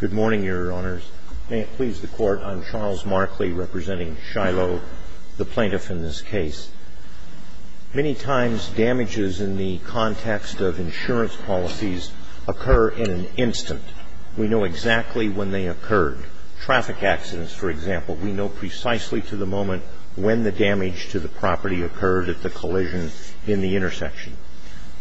Good morning, Your Honors. May it please the Court, I'm Charles Markley, representing Shilo, the plaintiff in this case. Many times, damages in the context of insurance policies occur in an instant. We know exactly when they occurred. Traffic accidents, for example, we know precisely to the moment when the damage to the property occurred at the collision in the intersection.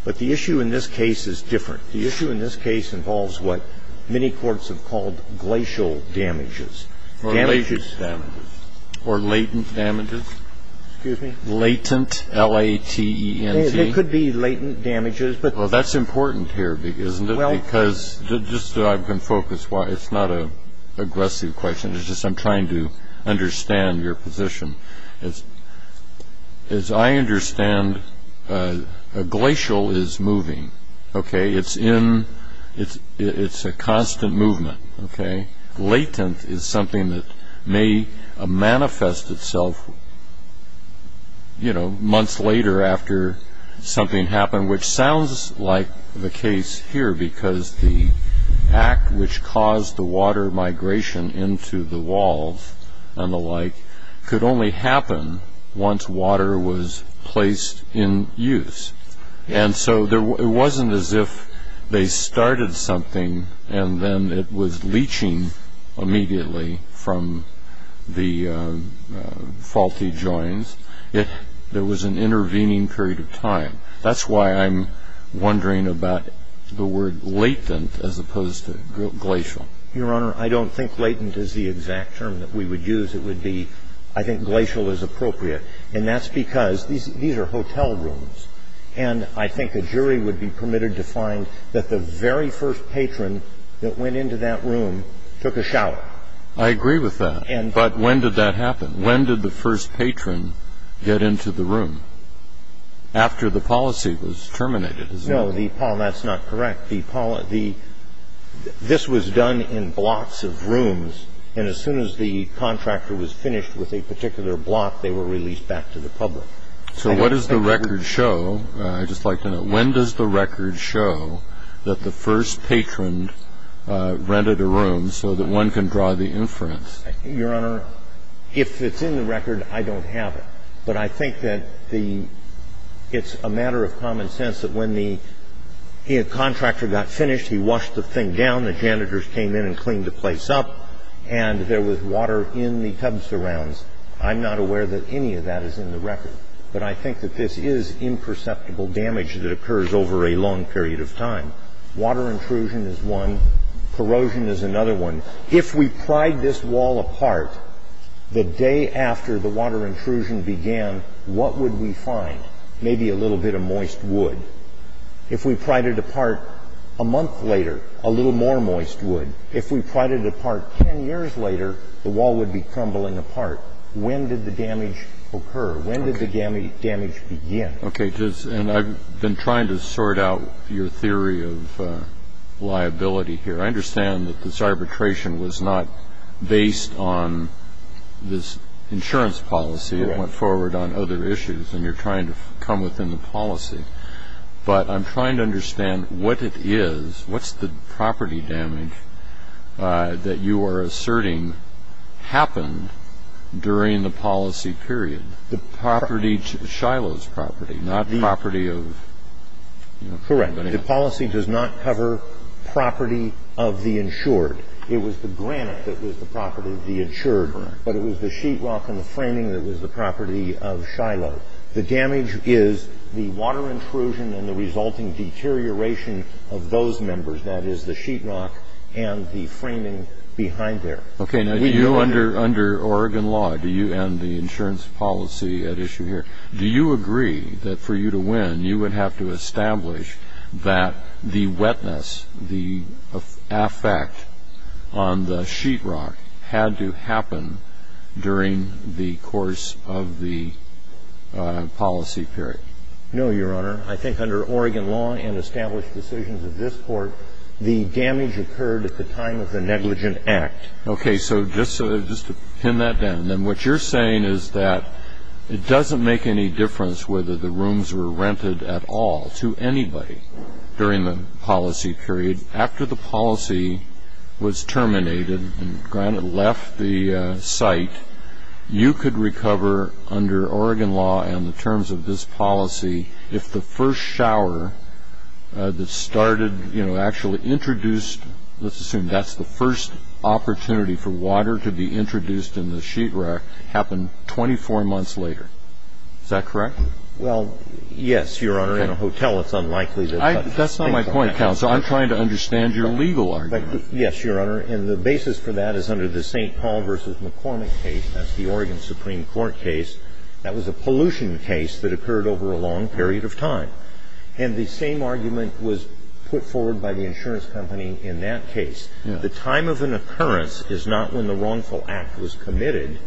But the issue in this case is different. The issue in this case involves what many courts have called glacial damages. Damages... Or latent damages. Or latent damages? Excuse me? Latent, L-A-T-E-N-T. They could be latent damages, but... Well, that's important here, isn't it? Well... Because, just so I can focus, it's not an aggressive question. It's just I'm trying to understand your position. As I understand, a glacial is moving. Okay? It's in... It's a constant movement. Okay? Latent is something that may manifest itself, you know, months later after something happened, which sounds like the case here, because the act which caused the water migration into the walls and the like could only happen once water was placed in use. And so it wasn't as if they started something and then it was leaching immediately from the faulty joins. There was an intervening period of time. That's why I'm wondering about the word latent as opposed to glacial. Your Honor, I don't think latent is the exact term that we would use. It would be... I think glacial is appropriate. And that's because these are hotel rooms. And I think a jury would be permitted to find that the very first patron that went into that room took a shower. I agree with that. But when did that happen? When did the first patron get into the room? After the policy was terminated, isn't it? No, Paul, that's not correct. I think the first patron rented a room so that one could draw the inference. But I think that the — it's a matter of common sense that when the contractor was finished with a particular block, they were released back to the public. So what does the record show? I just like to know. When does the record show that the first patron rented a room so that one can draw the inference? Your Honor, if it's in the record, I don't have it. But I think that the — it's a matter of common sense that when the contractor got finished, he washed the thing down, the janitors came in and cleaned the place up, and there was water in the tub surrounds. I'm not aware that any of that is in the record. But I think that this is imperceptible damage that occurs over a long period of time. Water intrusion is one. Corrosion is another one. If we pried this wall apart the day after the water intrusion began, what would we find? Maybe a little bit of moist wood. If we pried it apart a month later, a little more moist wood. If we pried it apart 10 years later, the wall would be crumbling apart. When did the damage occur? When did the damage begin? Okay. And I've been trying to sort out your theory of liability here. I understand that this arbitration was not based on this insurance policy that went forward on other issues, and you're trying to come within the policy. But I'm trying to understand what it is, what's the property damage that you are asserting happened during the policy period? The property — Shiloh's property, not property of anybody else. Correct. Okay. The policy does not cover property of the insured. It was the granite that was the property of the insured. Correct. But it was the sheetrock and the framing that was the property of Shiloh. The damage is the water intrusion and the resulting deterioration of those members, that is, the sheetrock and the framing behind there. Okay. Now, do you, under Oregon law, do you, and the insurance policy at issue here, do you agree that for you to win, you would have to establish that the wetness, the effect on the sheetrock had to happen during the course of the policy period? No, Your Honor. I think under Oregon law and established decisions of this Court, the damage occurred at the time of the negligent act. Okay. So just to pin that down. And then what you're saying is that it doesn't make any difference whether the rooms were rented at all to anybody during the policy period. After the policy was terminated and granite left the site, you could recover under Oregon law and the terms of this policy if the first shower that started, you know, actually introduced, let's assume that's the first opportunity for water to be introduced in the sheetrock, happened 24 months later. Is that correct? Well, yes, Your Honor. Okay. In a hotel, it's unlikely to happen. That's not my point, counsel. I'm trying to understand your legal argument. Yes, Your Honor. And the basis for that is under the St. Paul v. McCormick case. That was a pollution case that occurred over a long period of time. And the same argument was put forward by the insurance company in that case. The time of an occurrence is not when the wrongful act was committed,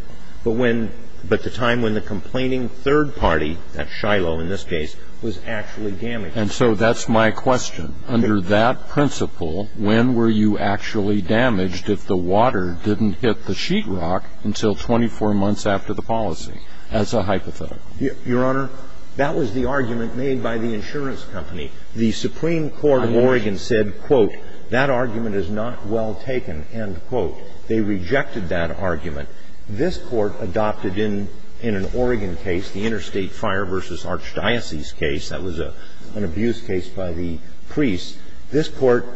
but the time when the complaining third party, that's Shiloh in this case, was actually damaged. And so that's my question. Under that principle, when were you actually damaged if the water didn't hit the sheetrock until 24 months after the policy as a hypothetical? Your Honor, that was the argument made by the insurance company. The Supreme Court of Oregon said, quote, that argument is not well taken, end quote. They rejected that argument. This Court adopted in an Oregon case, the Interstate Fire v. Archdiocese case, that was an abuse case by the priests. This Court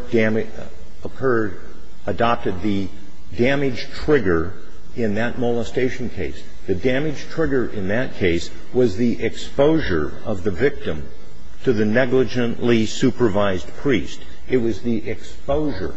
occurred, adopted the damage trigger in that molestation case. The damage trigger in that case was the exposure of the victim to the negligently supervised priest. It was the exposure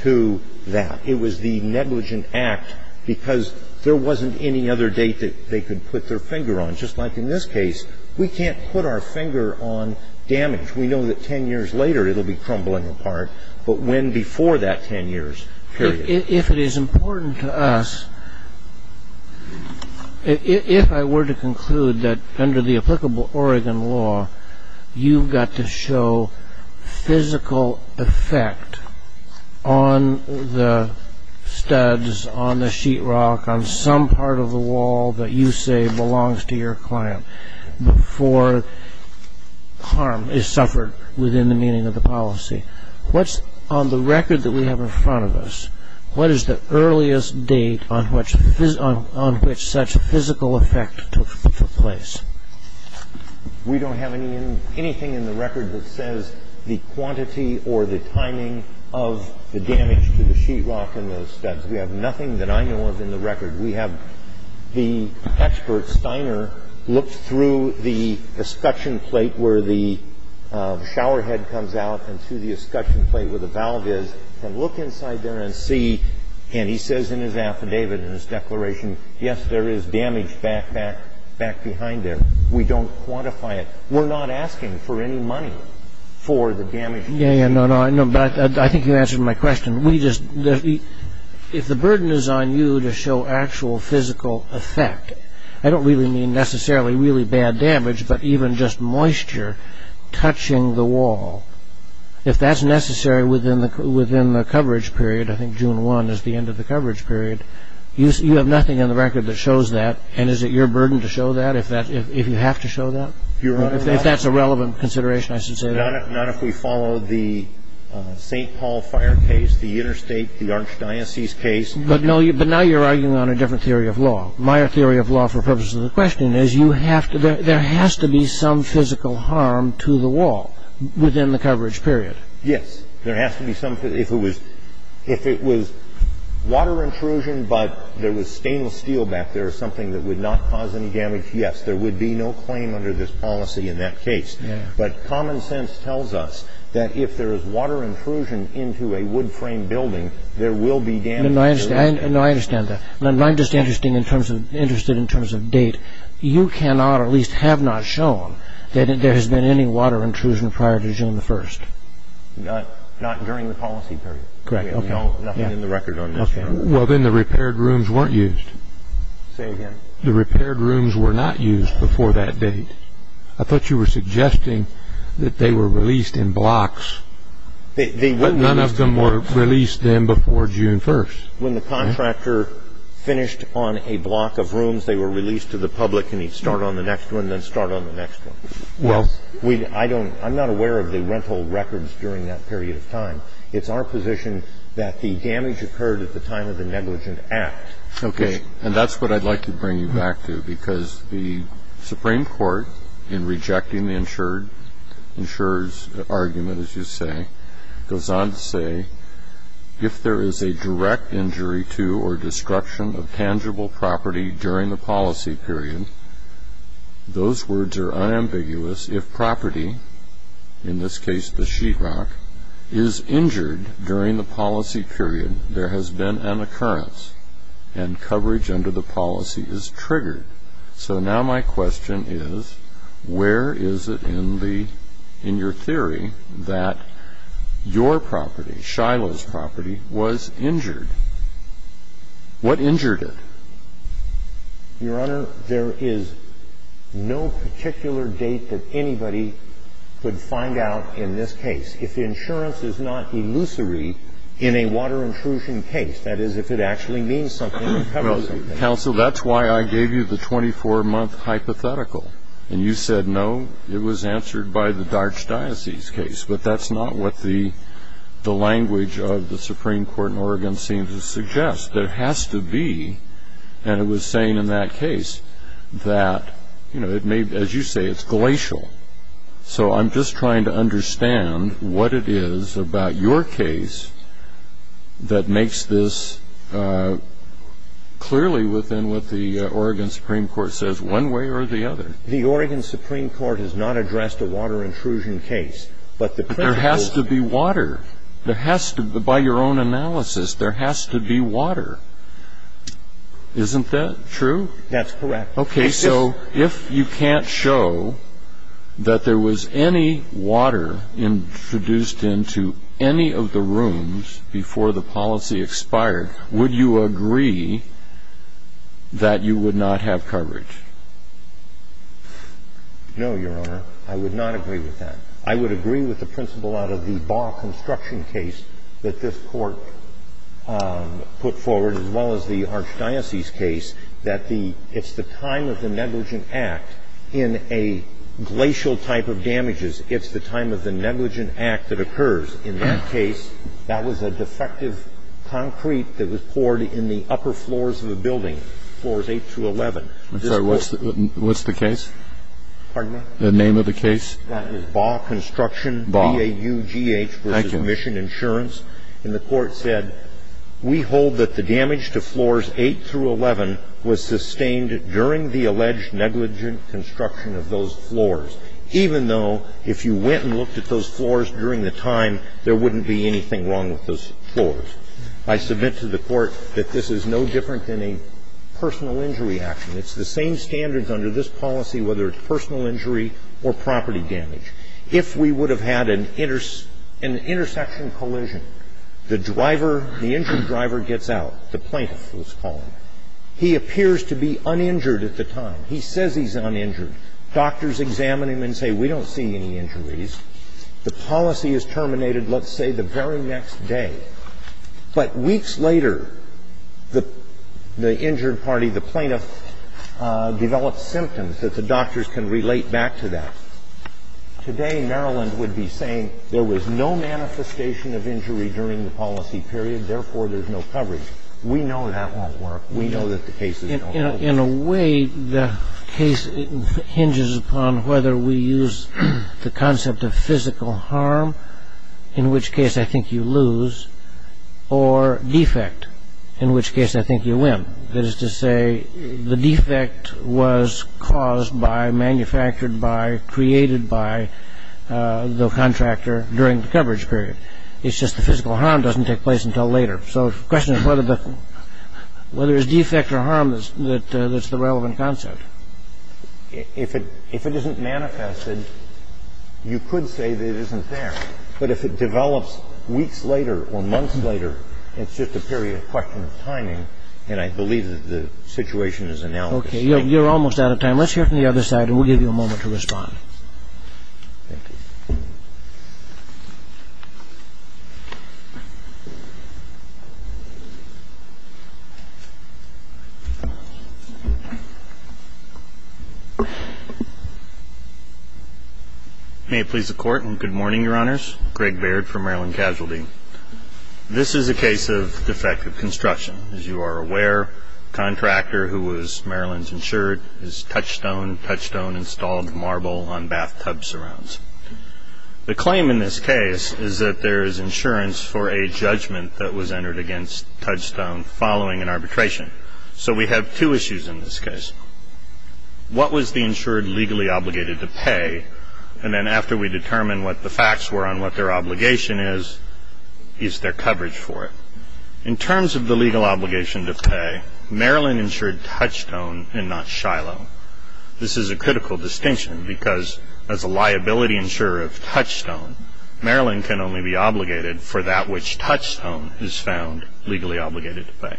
to that. It was the negligent act because there wasn't any other date that they could put their finger on. Just like in this case, we can't put our finger on damage. We know that 10 years later it will be crumbling apart, but when before that 10 years period? If it is important to us, if I were to conclude that under the applicable Oregon law, you've got to show physical effect on the studs, on the sheetrock, on some part of the wall that you say belongs to your client before harm is suffered within the meaning of the policy, what's on the record that we have in front of us? What is the earliest date on which such physical effect took place? We don't have anything in the record that says the quantity or the timing of the damage to the sheetrock in those studs. We have nothing that I know of in the record. We have the expert, Steiner, look through the escutcheon plate where the showerhead comes out and through the escutcheon plate where the valve is and look inside there and see, and he says in his affidavit, in his declaration, yes, there is damage back behind there. We don't quantify it. We're not asking for any money for the damage. I think you answered my question. If the burden is on you to show actual physical effect, I don't really mean necessarily really bad damage, but even just moisture touching the wall, if that's necessary within the coverage period, I think June 1 is the end of the coverage period, you have nothing in the record that shows that, and is it your burden to show that if you have to show that? If that's a relevant consideration, I should say that. Not if we follow the St. Paul fire case, the interstate, the archdiocese case. But now you're arguing on a different theory of law. My theory of law for the purpose of the question is there has to be some physical harm to the wall within the coverage period. Yes. If it was water intrusion but there was stainless steel back there or something that would not cause any damage, yes, there would be no claim under this policy in that case. But common sense tells us that if there is water intrusion into a wood-framed building, there will be damage. No, I understand that. I'm just interested in terms of date. You cannot, or at least have not shown, that there has been any water intrusion prior to June 1. Not during the policy period. Correct. Nothing in the record on this. Okay. Well, then the repaired rooms weren't used. Say again. The repaired rooms were not used before that date. I thought you were suggesting that they were released in blocks. None of them were released then before June 1. When the contractor finished on a block of rooms, they were released to the public and he'd start on the next one, then start on the next one. Well. I'm not aware of the rental records during that period of time. It's our position that the damage occurred at the time of the negligent act. Okay. And that's what I'd like to bring you back to because the Supreme Court, in rejecting the insurer's argument, as you say, goes on to say, if there is a direct injury to or destruction of tangible property during the policy period, those words are unambiguous. If property, in this case the sheetrock, is injured during the policy period, there has been an occurrence and coverage under the policy is triggered. So now my question is, where is it in your theory that your property, Shiloh's property, was injured? What injured it? Your Honor, there is no particular date that anybody could find out in this case. If the insurance is not illusory in a water intrusion case, that is, if it actually means something or covers something. Counsel, that's why I gave you the 24-month hypothetical. And you said no. It was answered by the Darch Diocese case. But that's not what the language of the Supreme Court in Oregon seems to suggest. There has to be, and it was saying in that case, that it may, as you say, it's glacial. So I'm just trying to understand what it is about your case that makes this clearly within what the Oregon Supreme Court says, one way or the other. The Oregon Supreme Court has not addressed a water intrusion case, but the principle There has to be water. There has to, by your own analysis, there has to be water. Isn't that true? That's correct. Okay. So if you can't show that there was any water introduced into any of the rooms before the policy expired, would you agree that you would not have coverage? No, Your Honor. I would not agree with that. I would agree with the principle out of the Baugh construction case that this Court put forward, as well as the Darch Diocese case, that it's the time of the negligent act in a glacial type of damages, it's the time of the negligent act that occurs. In that case, that was a defective concrete that was poured in the upper floors of the building, floors 8 through 11. I'm sorry. What's the case? Pardon me? The name of the case. That was Baugh Construction. Baugh. B-A-U-G-H versus Mission Insurance. And the Court said, we hold that the damage to floors 8 through 11 was sustained during the alleged negligent construction of those floors, even though if you went and looked at those floors during the time, there wouldn't be anything wrong with those floors. I submit to the Court that this is no different than a personal injury action. It's the same standards under this policy, whether it's personal injury or property damage. If we would have had an intersection collision, the driver, the injured driver gets out, the plaintiff, let's call him. He appears to be uninjured at the time. He says he's uninjured. Doctors examine him and say, we don't see any injuries. The policy is terminated, let's say, the very next day. But weeks later, the injured party, the plaintiff, develops symptoms that the doctors can relate back to that. Today, Maryland would be saying, there was no manifestation of injury during the policy period, therefore there's no coverage. We know that won't work. We know that the cases don't work. In a way, the case hinges upon whether we use the concept of physical harm, in which case I think you lose, or defect, in which case I think you win. The question is whether there's defect or harm. That is to say, the defect was caused by, manufactured by, created by the contractor during the coverage period. It's just the physical harm doesn't take place until later. So the question is whether there's defect or harm that's the relevant concept. If it isn't manifested, you could say that it isn't there. But if it develops weeks later or months later, it's just a period of question of timing, and I believe that the situation is analogous. Okay, you're almost out of time. Let's hear from the other side, and we'll give you a moment to respond. May it please the Court, and good morning, Your Honors. Greg Baird for Maryland Casualty. This is a case of defective construction. As you are aware, the contractor who was Maryland's insured is Touchstone. Touchstone installed marble on bathtub surrounds. The claim in this case is that there is insurance for a judgment that was entered against Touchstone following an arbitration. So we have two issues in this case. What was the insured legally obligated to pay? And then after we determine what the facts were on what their obligation is, is there coverage for it? In terms of the legal obligation to pay, Maryland insured Touchstone and not Shiloh. This is a critical distinction because as a liability insurer of Touchstone, Maryland can only be obligated for that which Touchstone is found legally obligated to pay.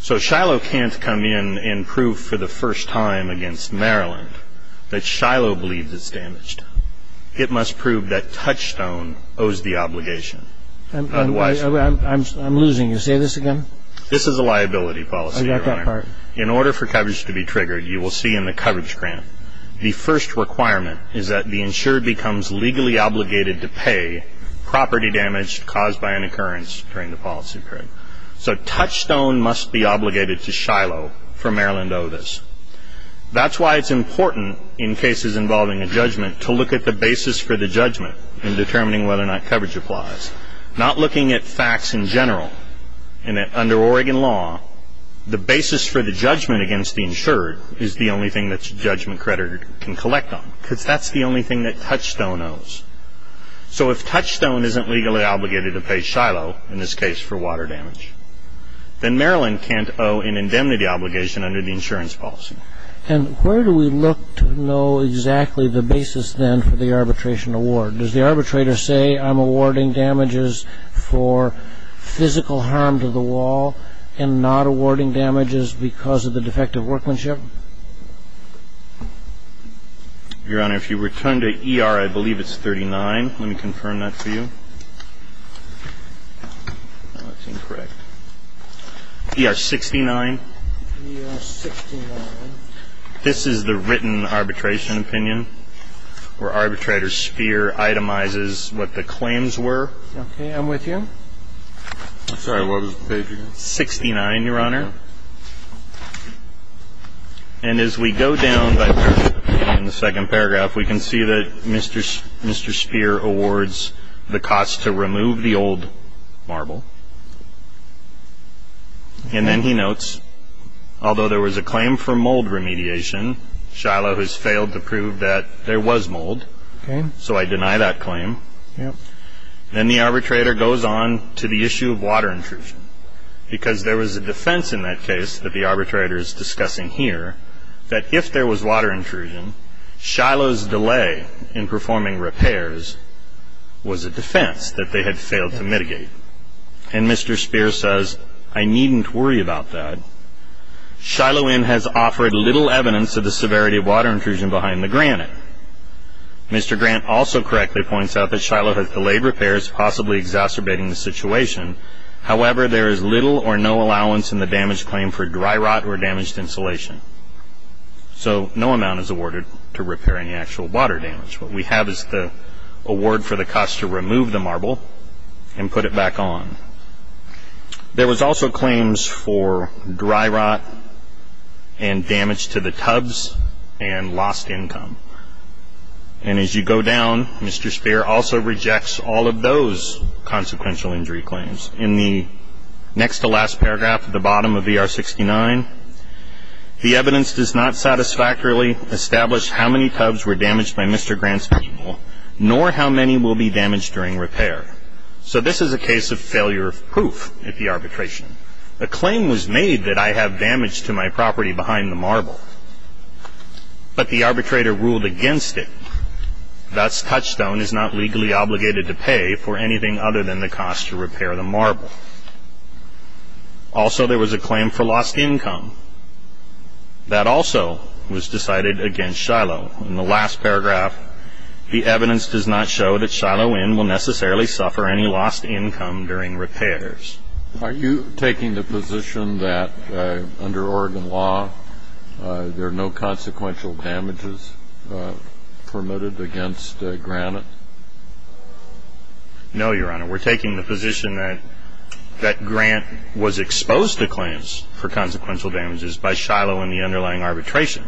So Shiloh can't come in and prove for the first time against Maryland that Shiloh believes it's damaged. It must prove that Touchstone owes the obligation. I'm losing. Say this again. This is a liability policy, Your Honor. I got that part. In order for coverage to be triggered, you will see in the coverage grant, the first requirement is that the insured becomes legally obligated to pay property damage caused by an occurrence during the policy period. So Touchstone must be obligated to Shiloh for Maryland to owe this. That's why it's important in cases involving a judgment to look at the basis for the judgment in determining whether or not coverage applies, not looking at facts in general. And under Oregon law, the basis for the judgment against the insured is the only thing that a judgment creditor can collect on because that's the only thing that Touchstone owes. So if Touchstone isn't legally obligated to pay Shiloh, in this case for water damage, then Maryland can't owe an indemnity obligation under the insurance policy. And where do we look to know exactly the basis then for the arbitration award? Does the arbitrator say, I'm awarding damages for physical harm to the wall and not awarding damages because of the defective workmanship? Your Honor, if you return to ER, I believe it's 39. Let me confirm that for you. No, that's incorrect. ER 69. ER 69. This is the written arbitration opinion where arbitrator's fear itemizes what the claims were. Okay, I'm with you. I'm sorry. What was the page again? 69, Your Honor. Okay. And as we go down in the second paragraph, we can see that Mr. Speer awards the cost to remove the old marble. And then he notes, although there was a claim for mold remediation, Shiloh has failed to prove that there was mold, so I deny that claim. Then the arbitrator goes on to the issue of water intrusion because there was a defense in that case that the arbitrator is discussing here that if there was water intrusion, Shiloh's delay in performing repairs was a defense that they had failed to mitigate. And Mr. Speer says, I needn't worry about that. Shiloh Inn has offered little evidence of the severity of water intrusion behind the granite. Mr. Grant also correctly points out that Shiloh has delayed repairs, possibly exacerbating the situation. However, there is little or no allowance in the damage claim for dry rot or damaged insulation. So no amount is awarded to repairing actual water damage. What we have is the award for the cost to remove the marble and put it back on. There was also claims for dry rot and damage to the tubs and lost income. And as you go down, Mr. Speer also rejects all of those consequential injury claims. In the next to last paragraph at the bottom of ER 69, the evidence does not satisfactorily establish how many tubs were damaged by Mr. Grant's people, nor how many will be damaged during repair. So this is a case of failure of proof at the arbitration. A claim was made that I have damage to my property behind the marble, but the arbitrator ruled against it. Thus, Touchstone is not legally obligated to pay for anything other than the cost to repair the marble. Also, there was a claim for lost income. That also was decided against Shiloh. In the last paragraph, the evidence does not show that Shiloh Inn will necessarily suffer any lost income during repairs. Are you taking the position that under Oregon law, there are no consequential damages permitted against Grant? No, Your Honor. We're taking the position that Grant was exposed to claims for consequential damages by Shiloh and the underlying arbitration,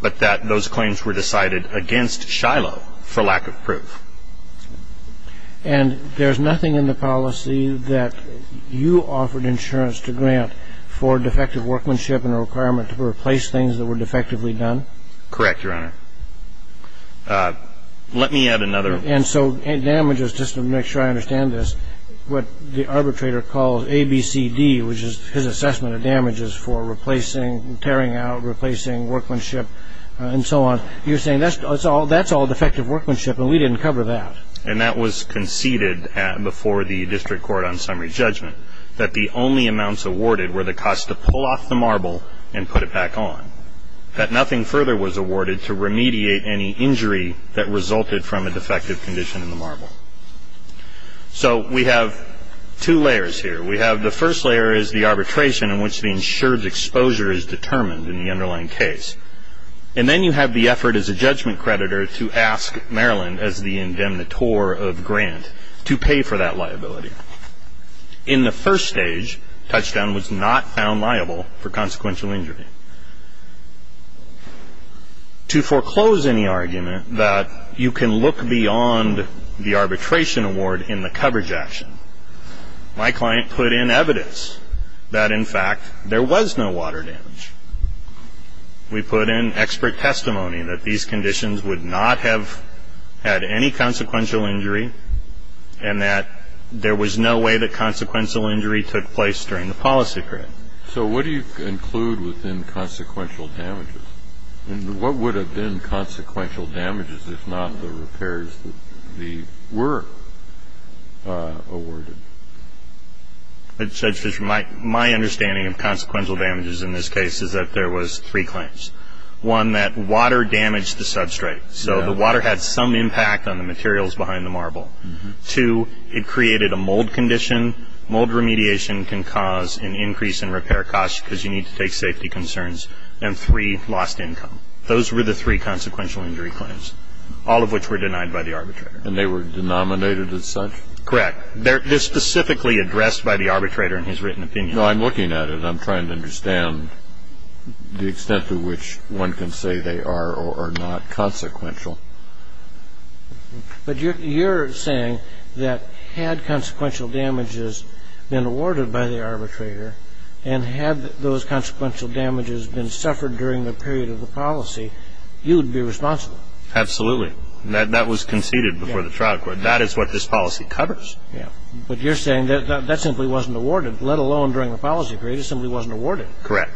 but that those claims were decided against Shiloh for lack of proof. And there's nothing in the policy that you offered insurance to Grant for defective workmanship and a requirement to replace things that were defectively done? Correct, Your Honor. Let me add another. And so damages, just to make sure I understand this, what the arbitrator calls ABCD, which is his assessment of damages for replacing, tearing out, replacing workmanship, and so on, you're saying that's all defective workmanship and we didn't cover that. And that was conceded before the district court on summary judgment, that the only amounts awarded were the cost to pull off the marble and put it back on, that nothing further was awarded to remediate any injury that resulted from a defective condition in the marble. So we have two layers here. We have the first layer is the arbitration in which the insured's exposure is determined in the underlying case. And then you have the effort as a judgment creditor to ask Maryland as the indemnitor of Grant to pay for that liability. In the first stage, touchdown was not found liable for consequential injury. To foreclose any argument that you can look beyond the arbitration award in the coverage action, my client put in evidence that, in fact, there was no water damage. We put in expert testimony that these conditions would not have had any consequential injury and that there was no way that consequential injury took place during the policy period. So what do you include within consequential damages? And what would have been consequential damages if not the repairs that were awarded? Judge Fisher, my understanding of consequential damages in this case is that there was three claims. One, that water damaged the substrate. So the water had some impact on the materials behind the marble. Two, it created a mold condition. Mold remediation can cause an increase in repair costs because you need to take safety concerns. And three, lost income. Those were the three consequential injury claims, all of which were denied by the arbitrator. And they were denominated as such? Correct. They're specifically addressed by the arbitrator in his written opinion? No, I'm looking at it. I'm trying to understand the extent to which one can say they are or are not consequential. But you're saying that had consequential damages been awarded by the arbitrator and had those consequential damages been suffered during the period of the policy, you would be responsible? Absolutely. That was conceded before the trial court. That is what this policy covers. But you're saying that that simply wasn't awarded, let alone during the policy period. It simply wasn't awarded. Correct.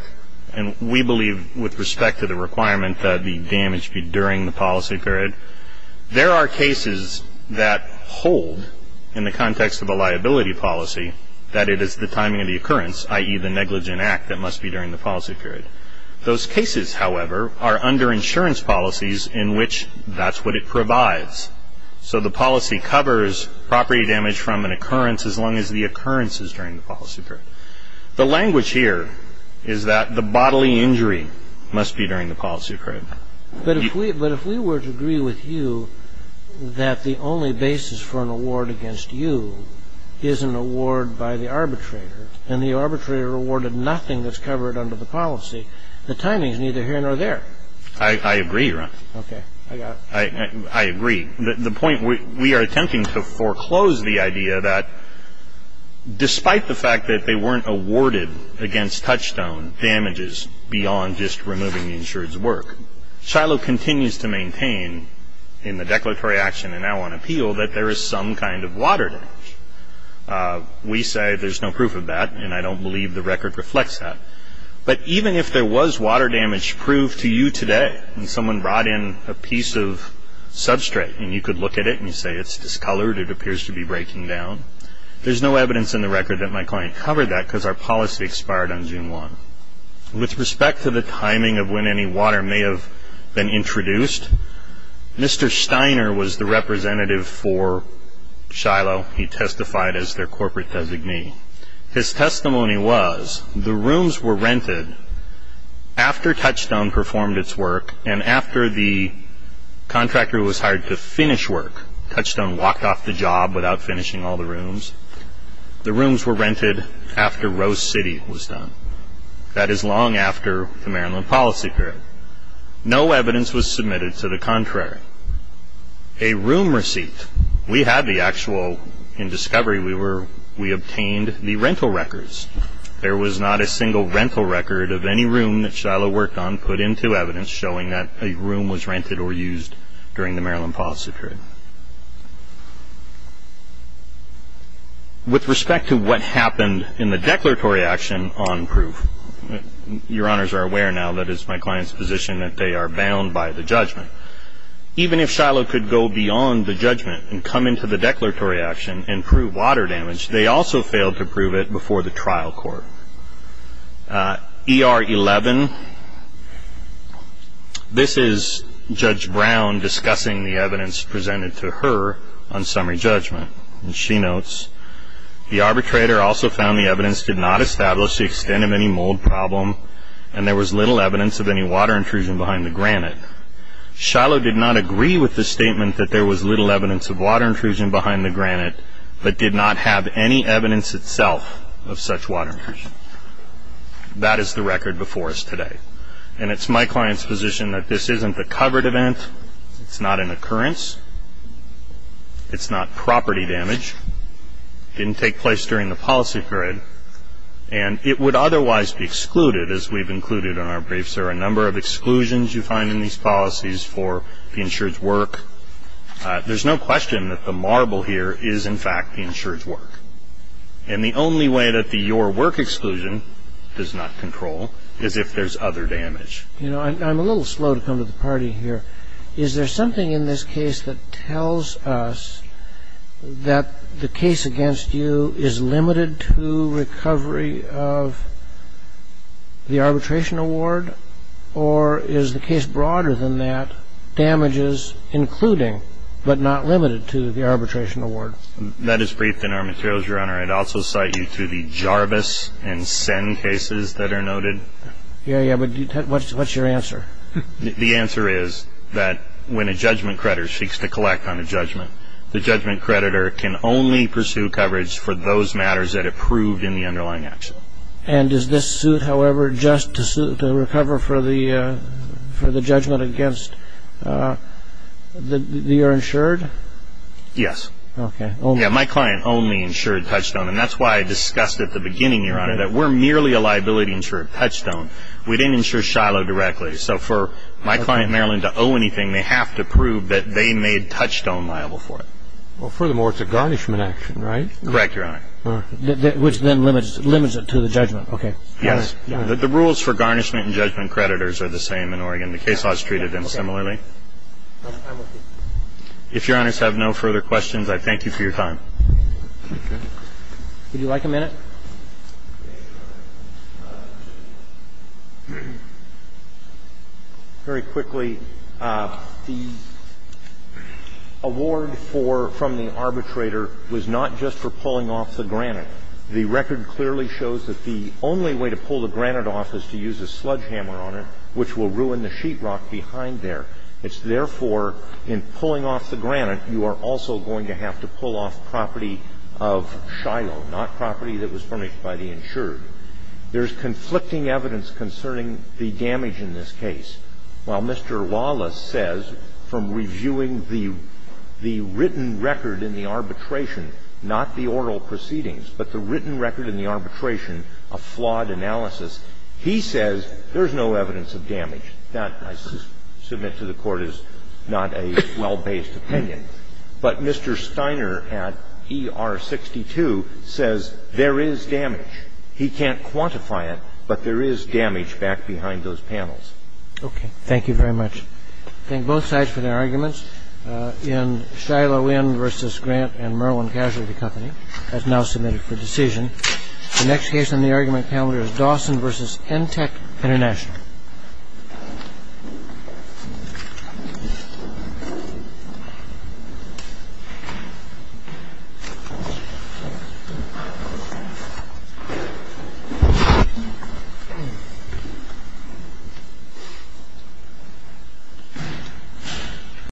And we believe, with respect to the requirement that the damage be during the policy period, there are cases that hold in the context of a liability policy that it is the timing of the occurrence, i.e. the negligent act, that must be during the policy period. Those cases, however, are under insurance policies in which that's what it provides. So the policy covers property damage from an occurrence as long as the occurrence is during the policy period. The language here is that the bodily injury must be during the policy period. But if we were to agree with you that the only basis for an award against you is an award by the arbitrator and the arbitrator awarded nothing that's covered under the policy, the timing is neither here nor there. I agree, Your Honor. Okay. I got it. I agree. The point we are attempting to foreclose the idea that despite the fact that they weren't awarded against touchstone damages beyond just removing the insured's work, Shiloh continues to maintain in the declaratory action and now on appeal that there is some kind of water damage. We say there's no proof of that, and I don't believe the record reflects that. But even if there was water damage proved to you today and someone brought in a piece of substrate and you could look at it and you say it's discolored, it appears to be breaking down, there's no evidence in the record that my client covered that because our policy expired on June 1. With respect to the timing of when any water may have been introduced, Mr. Steiner was the representative for Shiloh. He testified as their corporate designee. His testimony was the rooms were rented after touchstone performed its work and after the contractor was hired to finish work. Touchstone walked off the job without finishing all the rooms. The rooms were rented after Rose City was done. That is long after the Maryland policy period. No evidence was submitted to the contrary. A room receipt. We had the actual, in discovery, we obtained the rental records. There was not a single rental record of any room that Shiloh worked on put into evidence showing that a room was rented or used during the Maryland policy period. With respect to what happened in the declaratory action on proof, your honors are aware now that it's my client's position that they are bound by the judgment. Even if Shiloh could go beyond the judgment and come into the declaratory action and prove water damage, they also failed to prove it before the trial court. ER 11, this is Judge Brown discussing the evidence presented to her on summary judgment. And she notes, the arbitrator also found the evidence did not establish the extent of any mold problem and there was little evidence of any water intrusion behind the granite. Shiloh did not agree with the statement that there was little evidence of water intrusion behind the granite but did not have any evidence itself of such water intrusion. That is the record before us today. And it's my client's position that this isn't a covered event. It's not an occurrence. It's not property damage. It didn't take place during the policy period. And it would otherwise be excluded, as we've included in our briefs. There are a number of exclusions you find in these policies for the insured's work. There's no question that the marble here is, in fact, the insured's work. And the only way that the your work exclusion does not control is if there's other damage. You know, I'm a little slow to come to the party here. Is there something in this case that tells us that the case against you is limited to recovery of the arbitration award or is the case broader than that damages including but not limited to the arbitration award? That is briefed in our materials, Your Honor. I'd also cite you to the Jarvis and Sen cases that are noted. Yeah, yeah, but what's your answer? The answer is that when a judgment creditor seeks to collect on a judgment, the judgment creditor can only pursue coverage for those matters that are proved in the underlying action. And does this suit, however, just to recover for the judgment against the insured? Yes. Okay. Yeah, my client only insured touchstone. And that's why I discussed at the beginning, Your Honor, that we're merely a liability insured touchstone. We didn't insure Shiloh directly. So for my client, Maryland, to owe anything, they have to prove that they made touchstone liable for it. Well, furthermore, it's a garnishment action, right? Correct, Your Honor. All right. Which then limits it to the judgment. Okay. Yes. The rules for garnishment and judgment creditors are the same in Oregon. The case law is treated in similarly. If Your Honors have no further questions, I thank you for your time. Okay. Would you like a minute? Very quickly, the award for the arbitrator was not just for pulling off the granite. The record clearly shows that the only way to pull the granite off is to use a sledgehammer on it, which will ruin the sheetrock behind there. It's therefore, in pulling off the granite, you are also going to have to pull off property of Shiloh, not property that was furnished by the insured. There's conflicting evidence concerning the damage in this case. While Mr. Wallace says, from reviewing the written record in the arbitration, not the oral proceedings, but the written record in the arbitration, a flawed analysis, he says there's no evidence of damage. That, I submit to the Court, is not a well-based opinion. But Mr. Steiner at ER62 says there is damage. He can't quantify it, but there is damage back behind those panels. Okay. Thank you very much. I thank both sides for their arguments. And Shiloh Inn v. Grant and Merlin Casualty Company has now submitted for decision. The next case on the argument panel is Dawson v. EnTech International.